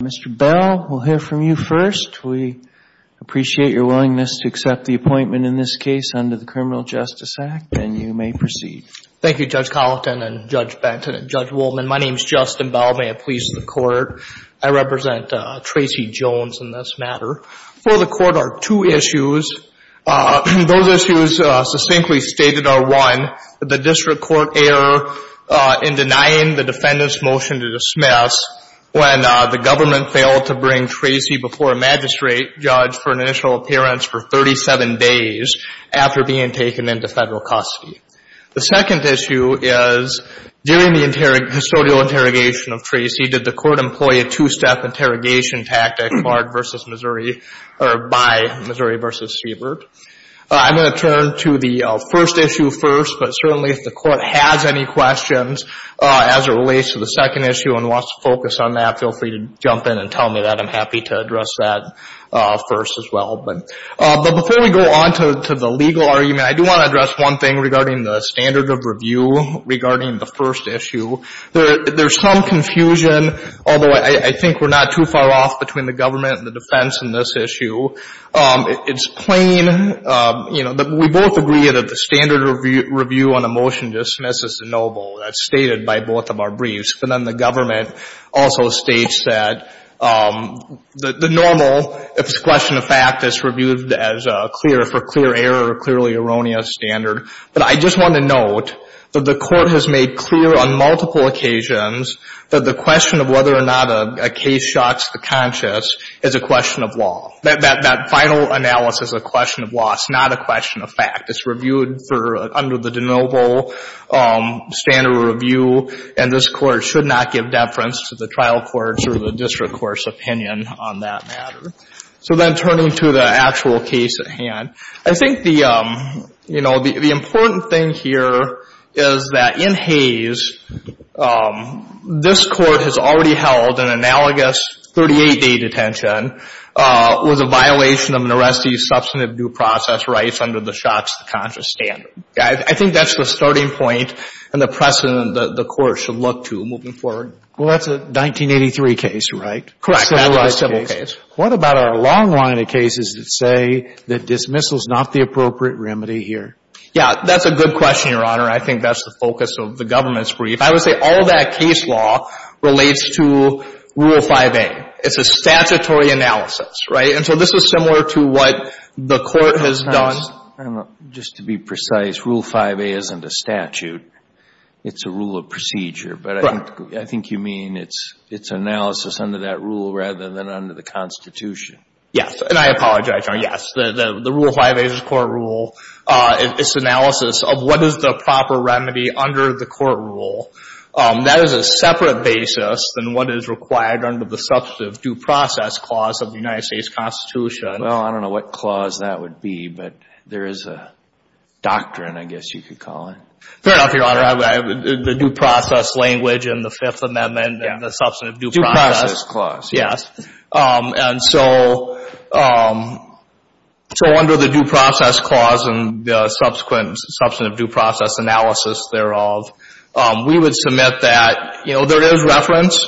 Mr. Bell, we'll hear from you first. We appreciate your willingness to accept the appointment in this case under the Criminal Justice Act, and you may proceed. Thank you, Judge Colleton and Judge Benton and Judge Woolman. My name is Justin Bell. May it please the Court, I represent Tracy Jones in this matter. For the Court, our two issues, those issues succinctly stated are, one, the District Court error in denying the government failed to bring Tracy before a magistrate judge for an initial appearance for 37 days after being taken into federal custody. The second issue is, during the historical interrogation of Tracy, did the Court employ a two-step interrogation tactic by Missouri v. Siebert? I'm going to turn to the first issue first, but certainly if the Court has any questions as it relates to the second jump in and tell me that, I'm happy to address that first as well. But before we go on to the legal argument, I do want to address one thing regarding the standard of review regarding the first issue. There's some confusion, although I think we're not too far off between the government and the defense in this issue. It's plain, you know, we both agree that the standard review on a motion dismisses the noble, as stated by both of our briefs. But then the government also states that the normal, if it's a question of fact, is reviewed as clear, for clear error, clearly erroneous standard. But I just want to note that the Court has made clear on multiple occasions that the question of whether or not a case shocks the conscious is a question of law. That final analysis, a question of law, is not a question of fact. It's reviewed for, under the noble standard of review, and this Court should not give deference to the trial court or the district court's opinion on that matter. So then turning to the actual case at hand, I think the, you know, the important thing here is that in Hayes, this Court has already held an analogous 38-day detention with a violation of Naresti's substantive due process rights under the shocks to the conscious standard. I think that's the starting point and the precedent that the Court should look to moving forward. Well, that's a 1983 case, right? Correct. That's a civil case. What about our long line of cases that say that dismissal is not the appropriate remedy here? Yeah. That's a good question, Your Honor. I think that's the focus of the government's brief. I would say all that case law relates to Rule 5a. It's a statutory analysis, right? And so this is similar to what the Court has done. Just to be precise, Rule 5a isn't a statute. It's a rule of procedure. But I think you mean it's analysis under that rule rather than under the Constitution. Yes. And I apologize, Your Honor. Yes. The Rule 5a is a court rule. It's analysis of what is the proper remedy under the court rule. That is a separate basis than what is required under the substantive due process clause of the United States Constitution. Well, I don't know what clause that would be, but there is a doctrine, I guess you could call it. Fair enough, Your Honor. The due process language and the Fifth Amendment and the substantive due process. Due process clause. Yes. And so under the due process clause and the subsequent substantive due process analysis thereof, we would submit that there is reference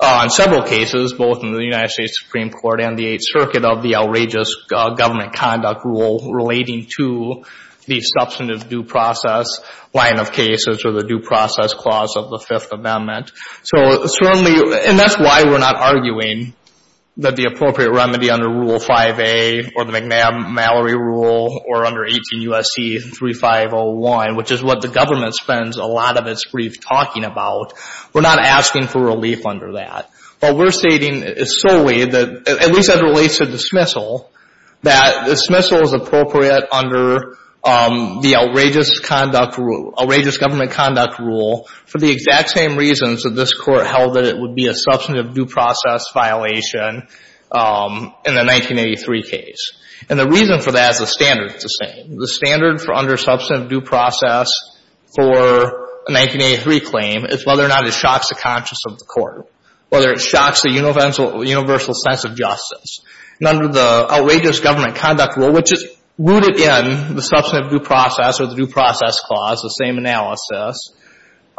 on several cases, both in the United States Supreme Court and the Eighth Circuit, of the outrageous government conduct rule relating to the substantive due process line of cases or the due process clause of the Fifth Amendment. So certainly, and that's why we're not arguing that the appropriate remedy under Rule 5a or the McNab-Mallory rule or under 18 U.S.C. 3501, which is what the government spends a lot of its brief talking about, we're not asking for relief under that. What we're stating is solely that, at least as it relates to dismissal, that dismissal is appropriate under the outrageous conduct rule, outrageous government conduct rule for the exact same reasons that this Court held that it would be a substantive due process violation in the 1983 case. And the reason for that is the standard is the same. The standard for undersubstantive due process for a 1983 claim is whether or not it shocks the conscience of the Court, whether it shocks the universal sense of justice. And under the outrageous government conduct rule, which is rooted in the substantive due process or the due process clause, the same analysis,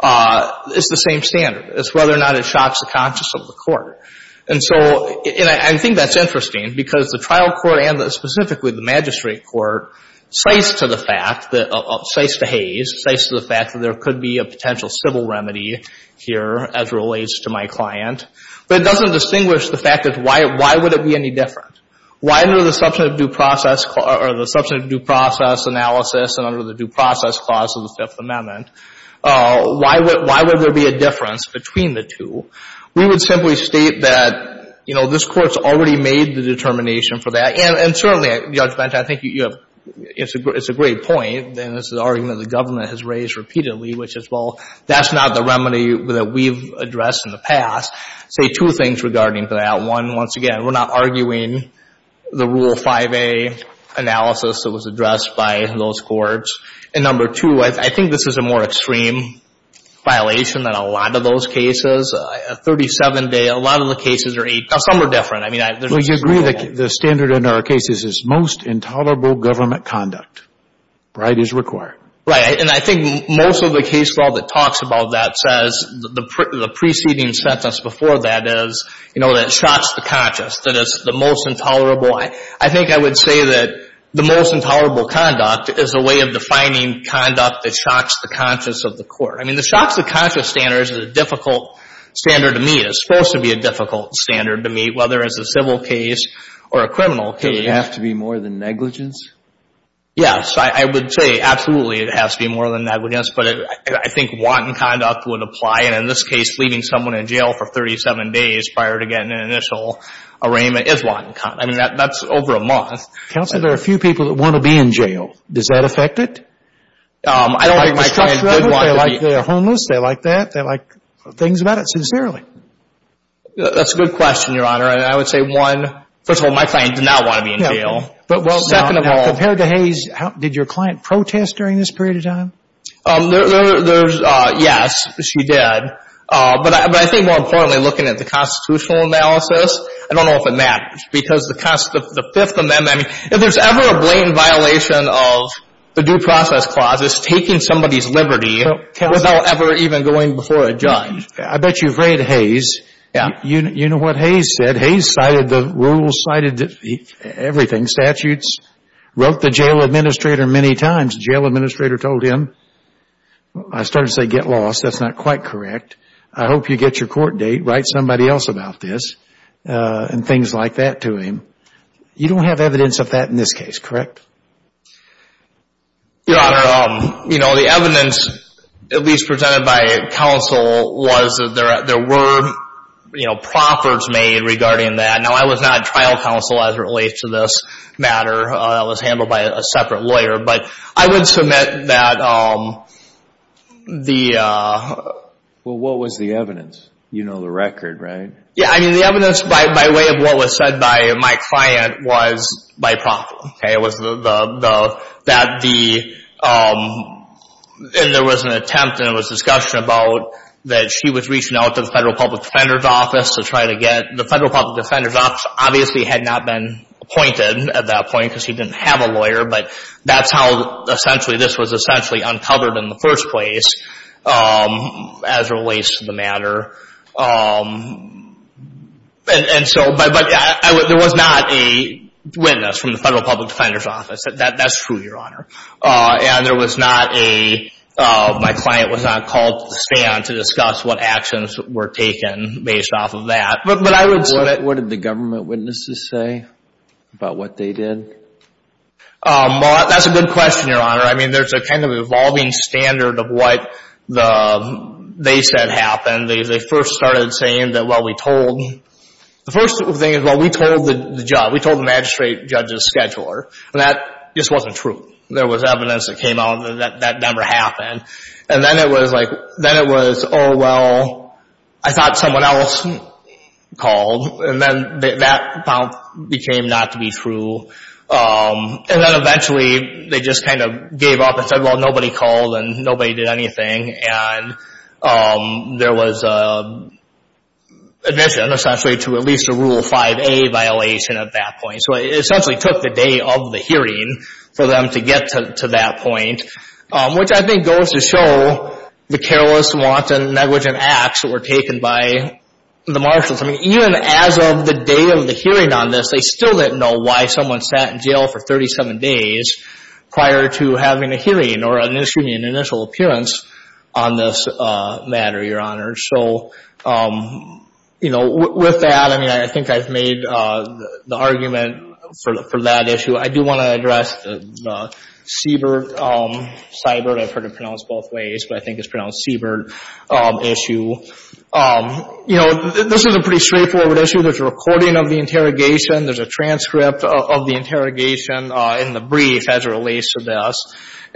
it's the same standard. It's whether or not it shocks the conscience of the Court. And so, and I think that's interesting because the trial court and specifically the magistrate court cites to the fact that, cites to Hays, cites to the fact that there could be a potential civil remedy here as relates to my client. But it doesn't distinguish the fact that why would it be any different? Why under the substantive due process or the substantive due process analysis and under the due process clause of the Fifth Amendment, why would there be a difference between the two? We would simply state that, you know, this Court's already made the determination for that. And certainly, Judge Bente, I think you have, it's a great point, and it's an That's not the remedy that we've addressed in the past. I'll say two things regarding that. One, once again, we're not arguing the Rule 5A analysis that was addressed by those courts. And number two, I think this is a more extreme violation than a lot of those cases. A 37-day, a lot of the cases are eight days. Some are different. I mean, there's a difference. Well, you agree that the standard in our cases is most intolerable government conduct, right, is required. Right. And I think most of the case law that talks about that says the preceding sentence before that is, you know, that it shocks the conscious, that it's the most intolerable. I think I would say that the most intolerable conduct is a way of defining conduct that shocks the conscious of the court. I mean, the shocks the conscious standard is a difficult standard to meet. It's supposed to be a difficult standard to meet, whether it's a civil case or a criminal case. Does it have to be more than negligence? Yes. I would say absolutely it has to be more than negligence. But I think wanton conduct would apply. And in this case, leaving someone in jail for 37 days prior to getting an initial arraignment is wanton conduct. I mean, that's over a month. Counsel, there are a few people that want to be in jail. Does that affect it? I don't think my client would want to be. They're homeless. They like that. They like things about it. Sincerely. That's a good question, Your Honor. And I would say, one, first of all, my client did not want to be in jail. But, well, now, compared to Hayes, did your client protest during this period of time? Yes, she did. But I think more importantly, looking at the constitutional analysis, I don't know if it matters. Because the Fifth Amendment, I mean, if there's ever a blatant violation of the Due Process Clause, it's taking somebody's liberty without ever even going before a judge. I bet you've read Hayes. Yeah. You know what Hayes said. Hayes cited the rules, cited everything. Statutes. Wrote the jail administrator many times. The jail administrator told him, I started to say, get lost. That's not quite correct. I hope you get your court date. Write somebody else about this. And things like that to him. You don't have evidence of that in this case, correct? Your Honor, you know, the evidence, at least presented by counsel, was that there were proffers made regarding that. Now, I was not trial counsel as it relates to this matter. That was handled by a separate lawyer. But I would submit that the... Well, what was the evidence? You know the record, right? Yeah. I mean, the evidence by way of what was said by my client was by proffer. Okay. It was that the... And there was an attempt and there was discussion about that she was reaching out to the Federal Public Defender's Office to try to get... The Federal Public Defender's Office obviously had not been appointed at that point because she didn't have a lawyer. But that's how, essentially, this was essentially uncovered in the first place as it relates to the matter. And so... But there was not a witness from the Federal Public Defender's Office. That's true, Your Honor. And there was not a... My client was not called to stand to discuss what actions were taken based off of that. But I would submit... What did the government witnesses say about what they did? Well, that's a good question, Your Honor. I mean, there's a kind of evolving standard of what they said happened. They first started saying that, well, we told... The first thing is, well, we told the magistrate judge's scheduler. And that just wasn't true. There was evidence that came out that that never happened. And then it was like... Then it was, oh, well, I thought someone else called. And then that became not to be true. And then eventually they just kind of gave up and said, well, nobody called and nobody did anything. And there was admission, essentially, to at least a Rule 5a violation at that point. So it essentially took the day of the hearing for them to get to that point, which I think goes to show the careless, wanton, negligent acts that were taken by the marshals. I mean, even as of the day of the hearing on this, they still didn't know why someone sat in jail for 37 days prior to having a hearing or an initial appearance on this matter, Your Honor. So, you know, with that, I mean, I think I've made the argument for that issue. I do want to address the Siebert, Seibert, I've heard it pronounced both ways, but I think it's pronounced Siebert issue. You know, this is a pretty straightforward issue. There's a recording of the interrogation. There's a transcript of the interrogation in the brief as it relates to this.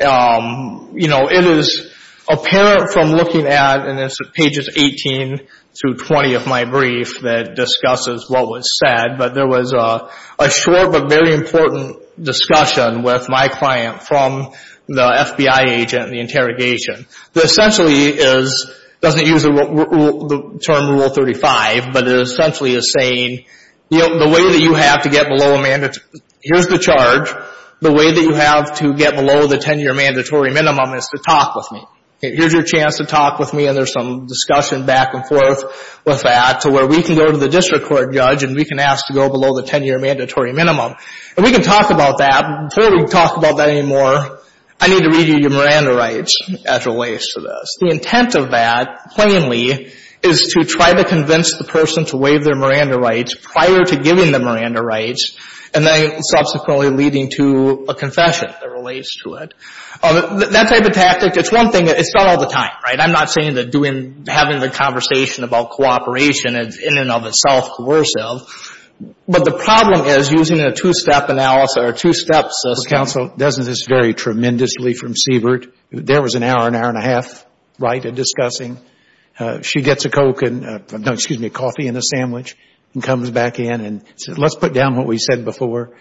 You know, it is apparent from looking at, and it's pages 18 through 20 of my brief that discusses what was said, but there was a short but very important discussion with my client from the FBI agent in the interrogation. It essentially is, it doesn't use the term Rule 35, but it essentially is saying, you know, the way that you have to get below a mandatory, here's the charge, the way that you have to get below the 10-year mandatory minimum is to talk with me. Here's your chance to talk with me, and there's some discussion back and forth with that to where we can go to the district court judge and we can ask to go below the 10-year mandatory minimum. And we can talk about that. Before we talk about that anymore, I need to read you your Miranda rights as it relates to this. The intent of that, plainly, is to try to convince the person to waive their Miranda rights prior to giving them Miranda rights and then subsequently leading to a confession that relates to it. That type of tactic, it's one thing, it's done all the time, right? I'm not saying that having the conversation about cooperation is in and of itself coercive, but the problem is using a two-step analysis, or two steps, as counsel does, and I learned this very tremendously from Siebert. There was an hour, an hour and a half, right, of discussing. She gets a Coke and, no, excuse me, a coffee and a sandwich and comes back in and says, let's put down what we said before.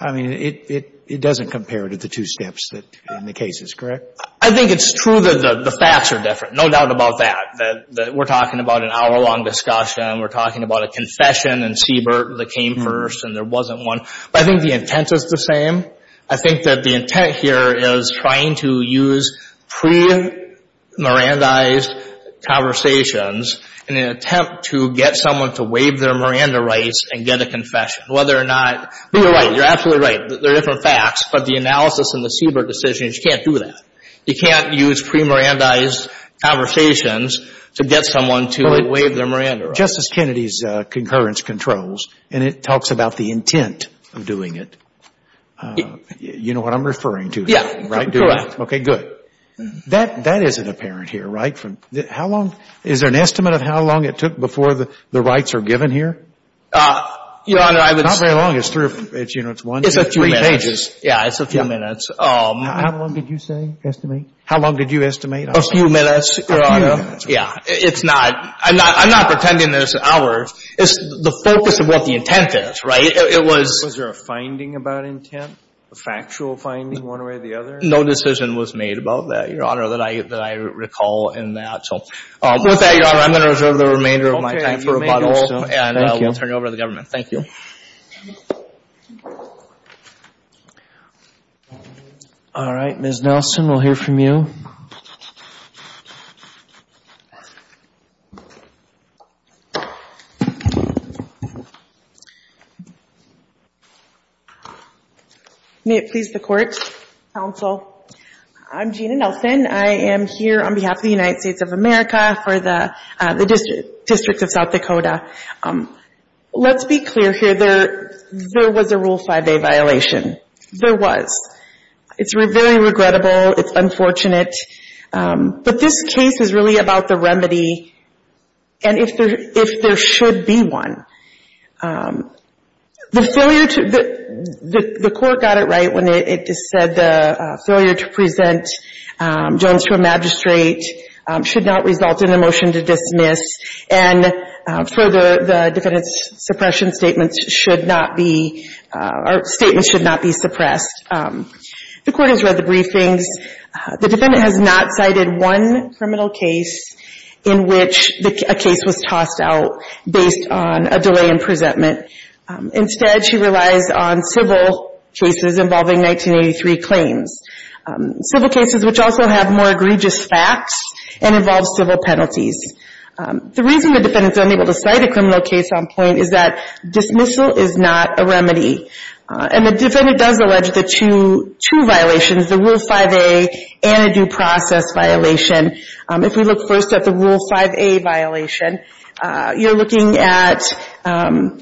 I mean, it doesn't compare to the two steps in the cases, correct? I think it's true that the facts are different, no doubt about that. We're talking about an hour-long discussion. We're talking about a confession in Siebert that came first and there wasn't one. But I think the intent is the same. I think that the intent here is trying to use pre-Mirandaized conversations in an attempt to get someone to waive their Miranda rights and get a confession. Whether or not you're right, you're absolutely right, they're different facts, but the analysis in the Siebert decision is you can't do that. You can't use pre-Mirandaized conversations to get someone to waive their Miranda rights. Justice Kennedy's concurrence controls, and it talks about the intent of doing it. You know what I'm referring to here, right? Correct. Okay, good. That isn't apparent here, right? How long, is there an estimate of how long it took before the rights are given here? Your Honor, I would say. Not very long. It's one, two, three pages. It's a few minutes. Yeah, it's a few minutes. How long did you say, estimate? How long did you estimate? A few minutes, Your Honor. A few minutes. Yeah, it's not. I'm not pretending that it's hours. It's the focus of what the intent is, right? Was there a finding about intent, a factual finding, one way or the other? No decision was made about that, Your Honor, that I recall in that. With that, Your Honor, I'm going to reserve the remainder of my time for rebuttal. Okay, you may do so. Thank you. And we'll turn it over to the government. Thank you. All right, Ms. Nelson, we'll hear from you. May it please the Court, Counsel, I'm Gina Nelson. I am here on behalf of the United States of America for the District of South Dakota. Let's be clear here. There was a Rule 5a violation. There was. It's very regrettable. It's unfortunate. But this case is really about the remedy and if there should be one. The failure to. The Court got it right when it said the failure to present Jones to a magistrate should not result in a motion to dismiss. And further, the defendant's suppression statements should not be, or statements should not be suppressed. The Court has read the briefings. The defendant has not cited one criminal case in which a case was tossed out based on a delay in presentment. Instead, she relies on civil cases involving 1983 claims, civil cases which also have more egregious facts and involve civil penalties. The reason the defendant is unable to cite a criminal case on point is that dismissal is not a remedy. And the defendant does allege the two violations, the Rule 5a and a due process violation. If we look first at the Rule 5a violation, you're looking at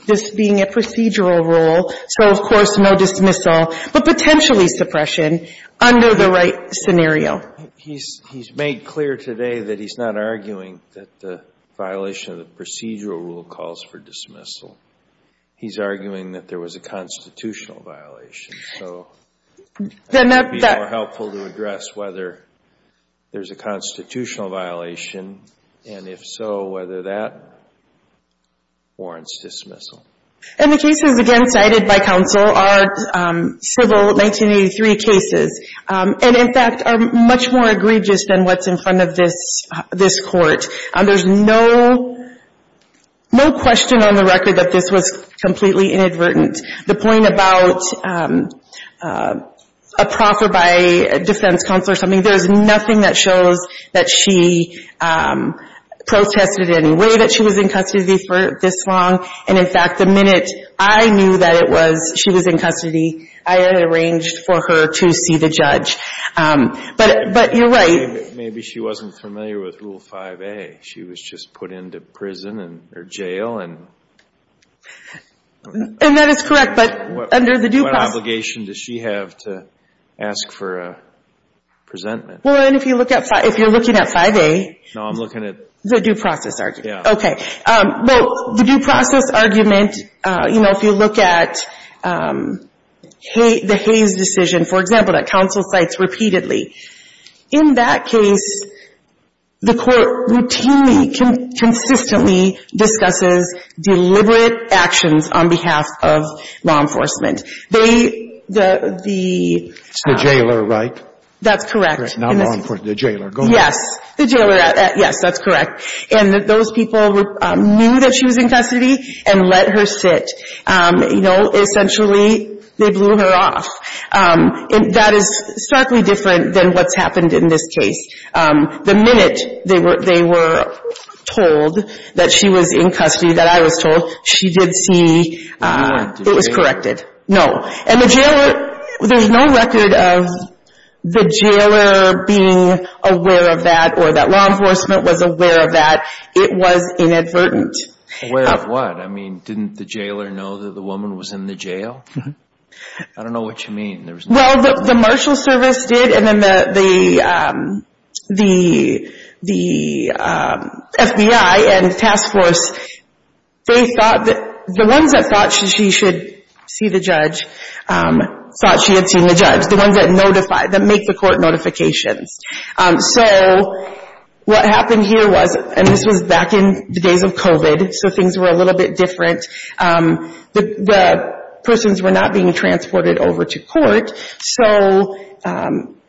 this being a procedural rule. So, of course, no dismissal, but potentially suppression under the right scenario. He's made clear today that he's not arguing that the violation of the procedural rule calls for dismissal. He's arguing that there was a constitutional violation. So I think it would be more helpful to address whether there's a constitutional violation, and if so, whether that warrants dismissal. And the cases, again, cited by counsel are civil 1983 cases, and in fact are much more egregious than what's in front of this Court. There's no question on the record that this was completely inadvertent. The point about a proffer by a defense counsel or something, there's nothing that shows that she protested in any way that she was in custody for this long. And, in fact, the minute I knew that it was, she was in custody, I had arranged for her to see the judge. But you're right. Maybe she wasn't familiar with Rule 5a. She was just put into prison or jail. And that is correct, but under the due process. What obligation does she have to ask for a presentment? Well, if you're looking at 5a. No, I'm looking at. The due process argument. Yeah. Okay. Well, the due process argument, you know, if you look at the Hayes decision, for example, that counsel cites repeatedly, in that case, the Court routinely, consistently discusses deliberate actions on behalf of law enforcement. They, the. It's the jailer, right? That's correct. Not law enforcement, the jailer. Yes. The jailer. Yes, that's correct. And those people knew that she was in custody and let her sit. You know, essentially, they blew her off. And that is starkly different than what's happened in this case. The minute they were told that she was in custody, that I was told, she did see. It was corrected. No. And the jailer, there's no record of the jailer being aware of that or that law enforcement was aware of that. It was inadvertent. Aware of what? I mean, didn't the jailer know that the woman was in the jail? I don't know what you mean. Well, the marshal service did, and then the FBI and task force, they thought that the ones that thought she should see the judge thought she had seen the judge, the ones that notify, that make the court notifications. So what happened here was, and this was back in the days of COVID, so things were a little bit different. The persons were not being transported over to court, so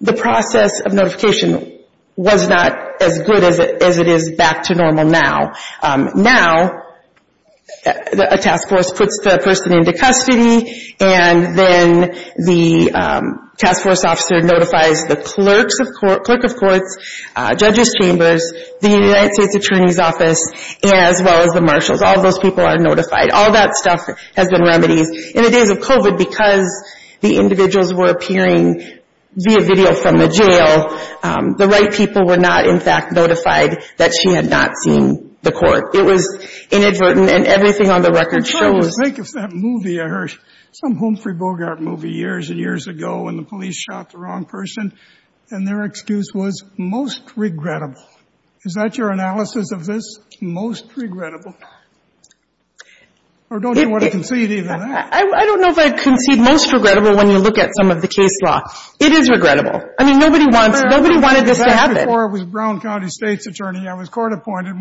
the process of notification was not as good as it is back to normal now. Now, a task force puts the person into custody, and then the task force officer notifies the clerk of courts, judges chambers, the United States Attorney's Office, as well as the marshals. All those people are notified. All that stuff has been remedied. In the days of COVID, because the individuals were appearing via video from the jail, the right people were not, in fact, notified that she had not seen the court. It was inadvertent, and everything on the record shows. I was thinking of that movie. I heard some Humphrey Bogart movie years and years ago when the police shot the wrong person, and their excuse was, most regrettable. Is that your analysis of this? Most regrettable. Or don't you want to concede either of that? I don't know if I concede most regrettable when you look at some of the case law. It is regrettable. I mean, nobody wanted this to happen. It was before I was Brown County State's attorney. I was court appointed.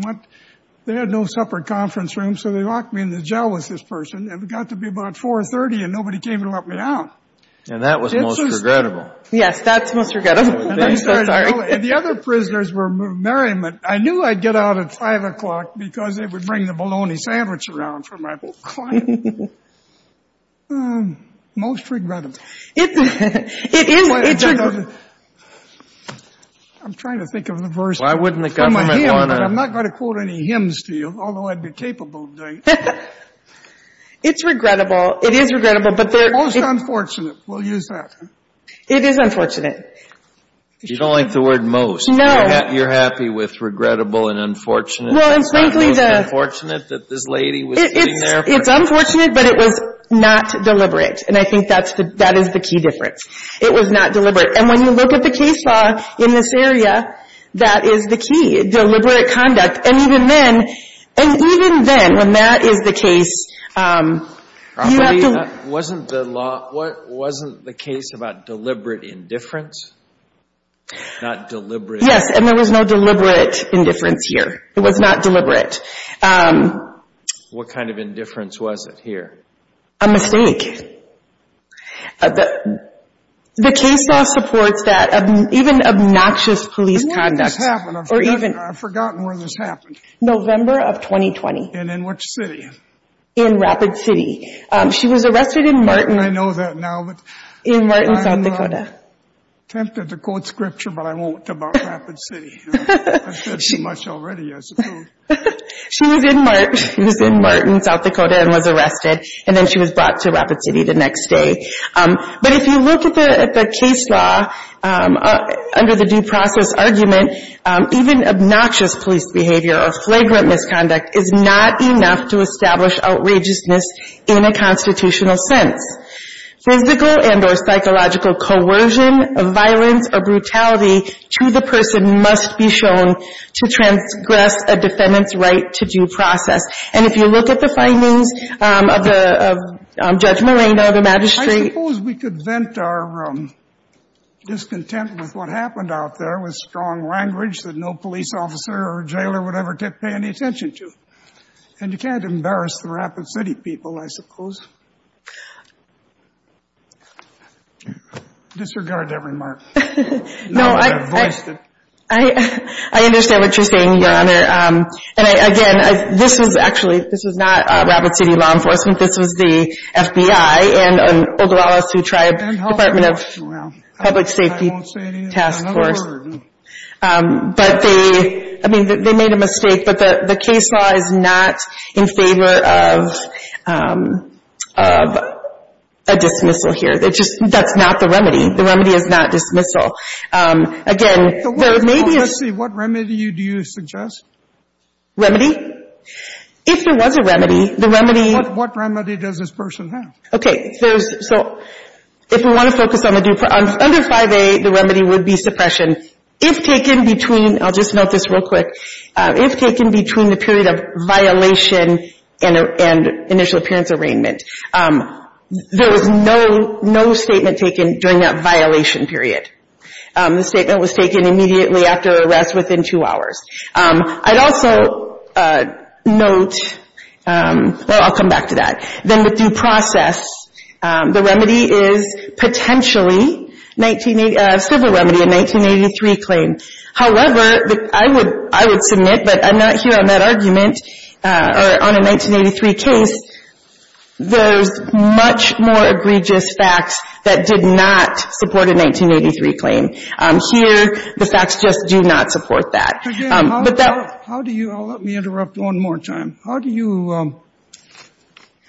They had no separate conference rooms, so they locked me in the jail with this person. It got to be about 4.30, and nobody came to let me out. And that was most regrettable. Yes, that's most regrettable. I'm so sorry. The other prisoners were merriment. I knew I'd get out at 5 o'clock because they would bring the bologna sandwich around for my client. Most regrettable. It is. I'm trying to think of the verse from a hymn, but I'm not going to quote any hymns to you, although I'd be capable of doing it. It's regrettable. It is regrettable. Most unfortunate. We'll use that. It is unfortunate. You don't like the word most. No. You're happy with regrettable and unfortunate and not most unfortunate that this lady was sitting there? It's unfortunate, but it was not deliberate, and I think that is the key difference. It was not deliberate. And when you look at the case law in this area, that is the key, deliberate conduct. And even then, when that is the case, you have to – Wasn't the case about deliberate indifference, not deliberate – Yes, and there was no deliberate indifference here. It was not deliberate. What kind of indifference was it here? A mistake. The case law supports that, even obnoxious police conduct. When did this happen? I've forgotten where this happened. November of 2020. And in which city? In Rapid City. She was arrested in Martin. I know that now. In Martin, South Dakota. I'm tempted to quote scripture, but I won't, about Rapid City. I've said too much already, I suppose. She was in Martin, South Dakota, and was arrested, and then she was brought to Rapid City the next day. But if you look at the case law under the due process argument, even obnoxious police behavior or flagrant misconduct is not enough to establish outrageousness in a constitutional sense. Physical and or psychological coercion of violence or brutality to the person must be shown to transgress a defendant's right to due process. And if you look at the findings of Judge Moreno, the magistrate – I suppose we could vent our discontent with what happened out there with strong language that no police officer or jailer would ever pay any attention to. And you can't embarrass the Rapid City people, I suppose. Disregard that remark. No, I – I voiced it. I understand what you're saying, Your Honor. And, again, this was actually – this was not Rapid City law enforcement. This was the FBI and an Oglala Sioux Tribe Department of Public Safety Task Force. I won't say it again. But they – I mean, they made a mistake. But the case law is not in favor of a dismissal here. It just – that's not the remedy. The remedy is not dismissal. Again, there may be a – Well, let's see. What remedy do you suggest? Remedy? If there was a remedy, the remedy – What remedy does this person have? Okay. There's – so if we want to focus on the – under 5A, the remedy would be suppression. If taken between – I'll just note this real quick. If taken between the period of violation and initial appearance arraignment, there was no statement taken during that violation period. The statement was taken immediately after arrest within two hours. I'd also note – well, I'll come back to that. Then the due process. The remedy is potentially civil remedy, a 1983 claim. However, I would submit, but I'm not here on that argument, or on a 1983 case, there's much more egregious facts that did not support a 1983 claim. Here, the facts just do not support that. But that – How do you – let me interrupt one more time. How do you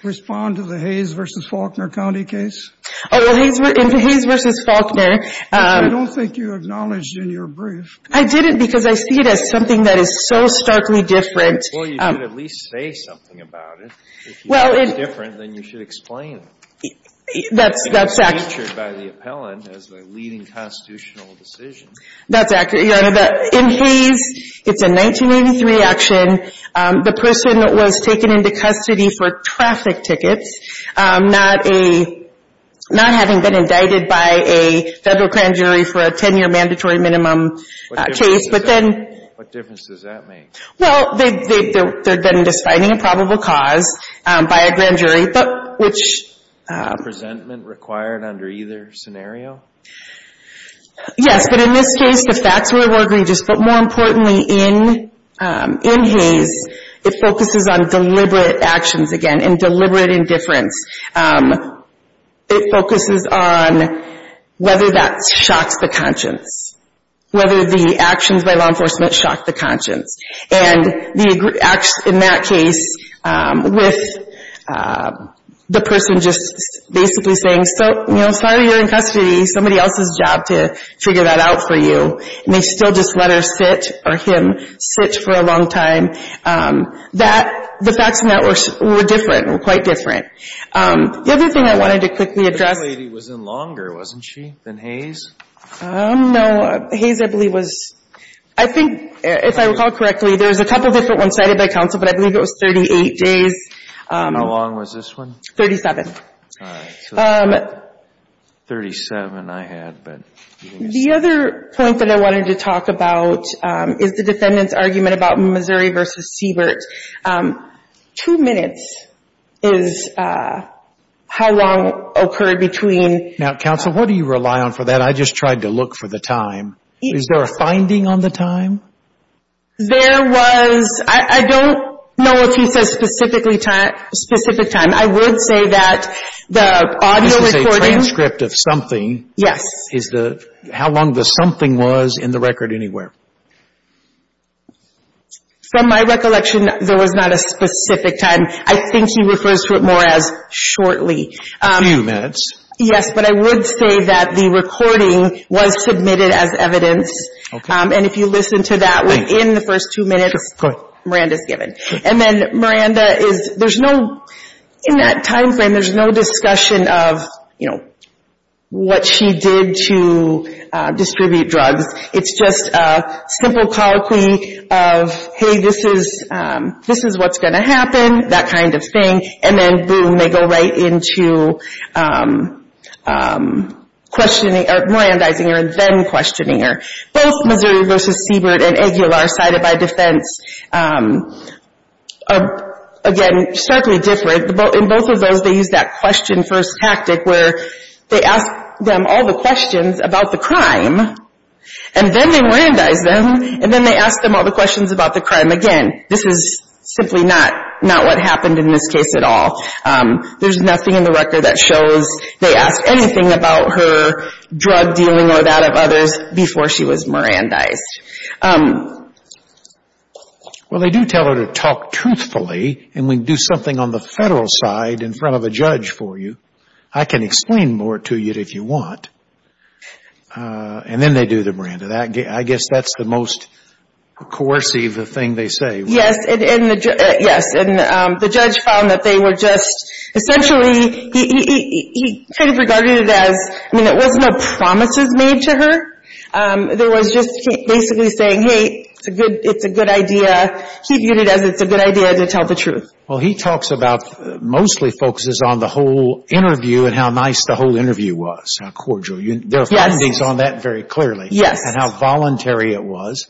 respond to the Hayes v. Faulkner County case? In the Hayes v. Faulkner – I don't think you acknowledged in your brief. I didn't, because I see it as something that is so starkly different. Well, you should at least say something about it. Well, it – If it's different, then you should explain it. That's – It was featured by the appellant as the leading constitutional decision. That's – in Hayes, it's a 1983 action. The person was taken into custody for traffic tickets, not a – not having been indicted by a federal grand jury for a 10-year mandatory minimum case. But then – What difference does that make? Well, they're then just finding a probable cause by a grand jury. But which – No presentment required under either scenario? Yes, but in this case, the facts were more egregious. But more importantly, in Hayes, it focuses on deliberate actions again and deliberate indifference. It focuses on whether that shocks the conscience, whether the actions by law enforcement shock the conscience. And the – in that case, with the person just basically saying, so, you know, sorry you're in custody. Somebody else's job to figure that out for you. And they still just let her sit or him sit for a long time. That – the facts in that were different, were quite different. The other thing I wanted to quickly address – This lady was in longer, wasn't she, than Hayes? No, Hayes, I believe, was – I think, if I recall correctly, there was a couple different ones cited by counsel. But I believe it was 38 days. And how long was this one? 37. All right. So 37 I had, but – The other point that I wanted to talk about is the defendant's argument about Missouri v. Siebert. Two minutes is how long occurred between – Now, counsel, what do you rely on for that? I just tried to look for the time. Is there a finding on the time? There was – I don't know if he says specific time. I would say that the audio recording – This is a transcript of something. Yes. Is the – how long the something was in the record anywhere? From my recollection, there was not a specific time. I think he refers to it more as shortly. A few minutes. Yes, but I would say that the recording was submitted as evidence. And if you listen to that within the first two minutes, Miranda's given. And then Miranda is – there's no – in that timeframe, there's no discussion of, you know, what she did to distribute drugs. It's just a simple colloquy of, hey, this is what's going to happen, that kind of thing. And then, boom, they go right into questioning – or, morandizing her and then questioning her. Both Missouri v. Siebert and Aguilar, cited by defense, are, again, starkly different. In both of those, they use that question-first tactic where they ask them all the questions about the crime, and then they morandize them, and then they ask them all the questions about the crime again. This is simply not what happened in this case at all. There's nothing in the record that shows they asked anything about her drug dealing or that of others before she was morandized. Well, they do tell her to talk truthfully, and we do something on the Federal side in front of a judge for you. I can explain more to you if you want. And then they do the morandizing. I guess that's the most coercive thing they say. Yes, and the judge found that they were just – essentially, he kind of regarded it as – I mean, it wasn't a promise made to her. There was just basically saying, hey, it's a good idea. He viewed it as it's a good idea to tell the truth. Well, he talks about – mostly focuses on the whole interview and how nice the whole interview was, how cordial. Yes. There are findings on that very clearly. Yes. And how voluntary it was.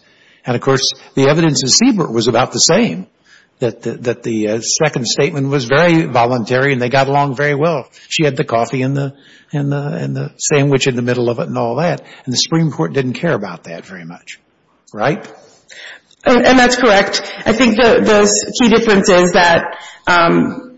And, of course, the evidence in Siebert was about the same, that the second statement was very voluntary and they got along very well. She had the coffee and the sandwich in the middle of it and all that, and the Supreme Court didn't care about that very much, right? And that's correct. I think those key differences, that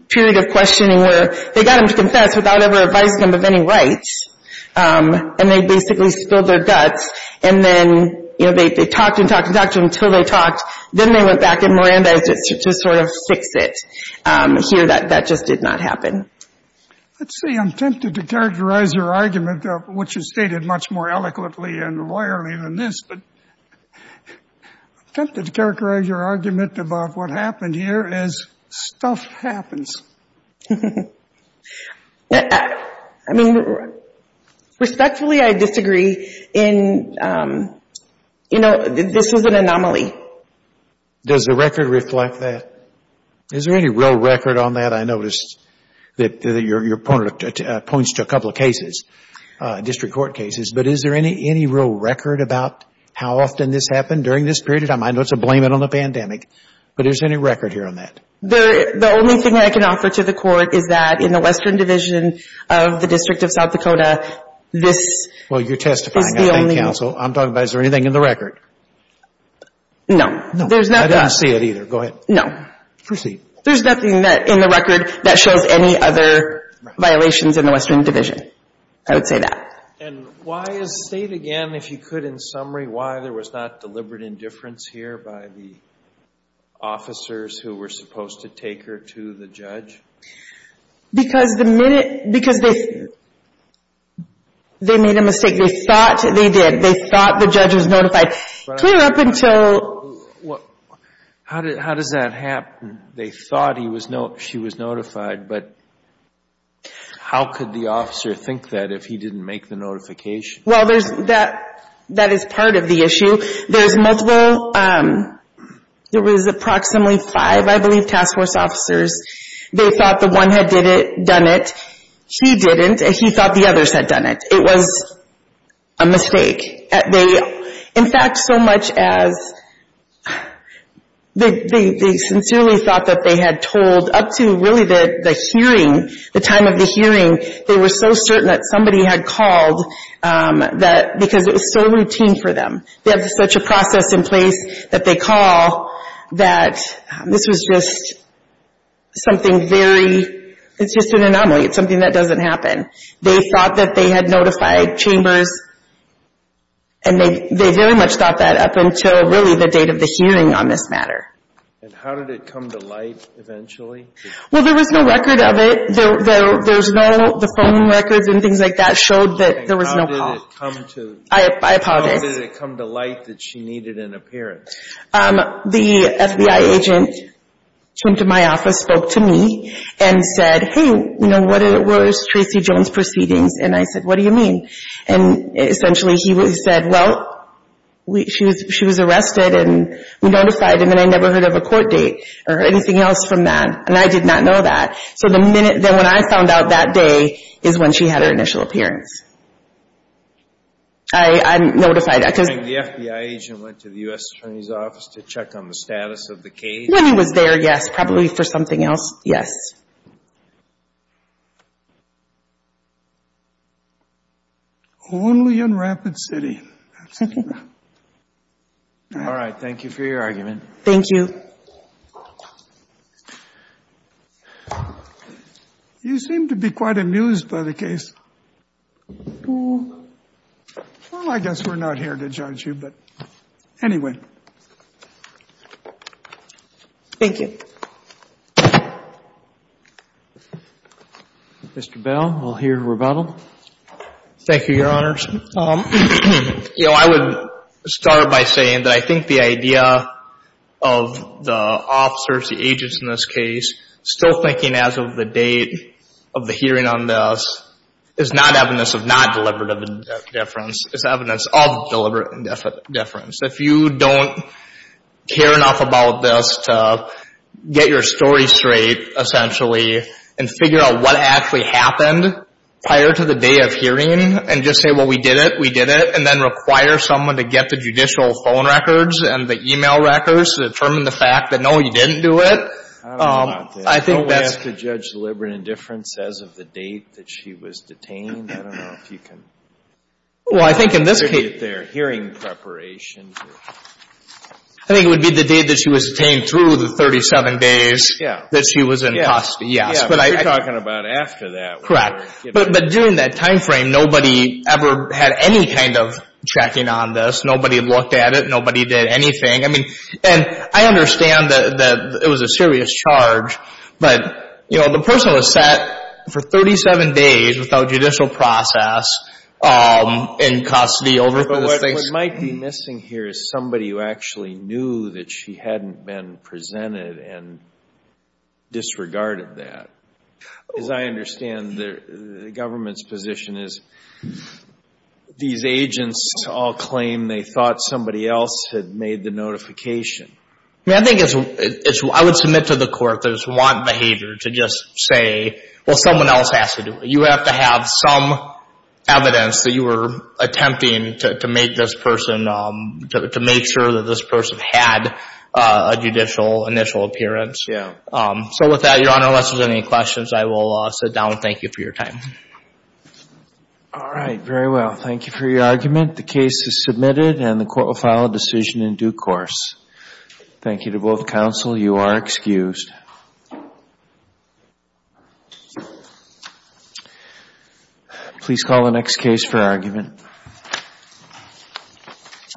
period of questioning where they got him to confess without ever advising him of any rights, and they basically spilled their guts, and then, you know, they talked and talked and talked until they talked. Then they went back and morandized it to sort of fix it. Here, that just did not happen. Let's see. I'm tempted to characterize your argument, which is stated much more eloquently and loyally than this, but I'm tempted to characterize your argument about what happened here as stuff happens. I mean, respectfully, I disagree in, you know, this was an anomaly. Does the record reflect that? Is there any real record on that? I noticed that your point points to a couple of cases, district court cases, but is there any real record about how often this happened during this period of time? I know it's a blame it on the pandemic, but is there any record here on that? The only thing I can offer to the Court is that in the Western Division of the District of South Dakota, this is the only- Well, you're testifying, I think, counsel. I'm talking about is there anything in the record? No. I didn't see it either. Go ahead. No. Proceed. There's nothing in the record that shows any other violations in the Western Division. I would say that. And why is State, again, if you could, in summary, why there was not deliberate indifference here by the officers who were supposed to take her to the judge? Because they made a mistake. They thought they did. They thought the judge was notified. How does that happen? They thought she was notified, but how could the officer think that if he didn't make the notification? Well, that is part of the issue. There was approximately five, I believe, task force officers. They thought the one had done it. He didn't. He thought the others had done it. It was a mistake. In fact, so much as they sincerely thought that they had told up to really the hearing, the time of the hearing, they were so certain that somebody had called because it was so routine for them. They have such a process in place that they call that this was just something very, it's just an anomaly. It's something that doesn't happen. They thought that they had notified chambers, and they very much thought that up until really the date of the hearing on this matter. And how did it come to light eventually? Well, there was no record of it. There's no, the phone records and things like that showed that there was no call. And how did it come to light that she needed an appearance? The FBI agent came to my office, spoke to me, and said, hey, you know, what were Tracy Jones' proceedings? And I said, what do you mean? And essentially he said, well, she was arrested, and we notified him, and I never heard of a court date or anything else from that. And I did not know that. So the minute that when I found out that day is when she had her initial appearance. I notified that. And the FBI agent went to the U.S. Attorney's office to check on the status of the case? When he was there, yes. Probably for something else, yes. Only in Rapid City. All right. Thank you for your argument. You seem to be quite amused by the case. Well, I guess we're not here to judge you, but anyway. Thank you. Mr. Bell, we'll hear rebuttal. Thank you, Your Honors. You know, I would start by saying that I think the idea of the officers, the agents in this case, still thinking as of the date of the hearing on this is not evidence of not deliberate indifference. It's evidence of deliberate indifference. If you don't care enough about this to get your story straight, essentially, and figure out what actually happened prior to the day of hearing and just say, well, we did it, we did it, and then require someone to get the judicial phone records and the e-mail records to determine the fact that, no, you didn't do it, I think that's... Don't we have to judge deliberate indifference as of the date that she was detained? I don't know if you can... Well, I think in this case... ...get their hearing preparation. I think it would be the date that she was detained through the 37 days that she was in custody, yes. Yeah, but you're talking about after that. Correct. But during that time frame, nobody ever had any kind of checking on this. Nobody looked at it. Nobody did anything. I mean, and I understand that it was a serious charge, but, you know, the person was set for 37 days without judicial process in custody over those things. What might be missing here is somebody who actually knew that she hadn't been presented and disregarded that. As I understand, the government's position is these agents all claim they thought somebody else had made the notification. I mean, I think it's... I would submit to the court that it's want behavior to just say, well, someone else has to do it. You have to have some evidence that you were attempting to make this person, to make sure that this person had a judicial initial appearance. Yeah. So with that, Your Honor, unless there's any questions, I will sit down. Thank you for your time. All right. Very well. Thank you for your argument. The case is submitted and the court will file a decision in due course. Thank you to both counsel. You are excused. Thank you.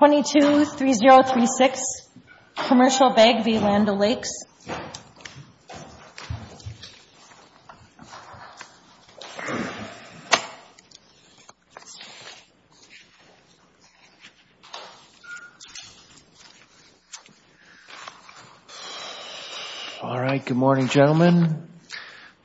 22-3036. Commercial Beg v. Land O'Lakes. Thank you. All right. Good morning, gentlemen. Thank you.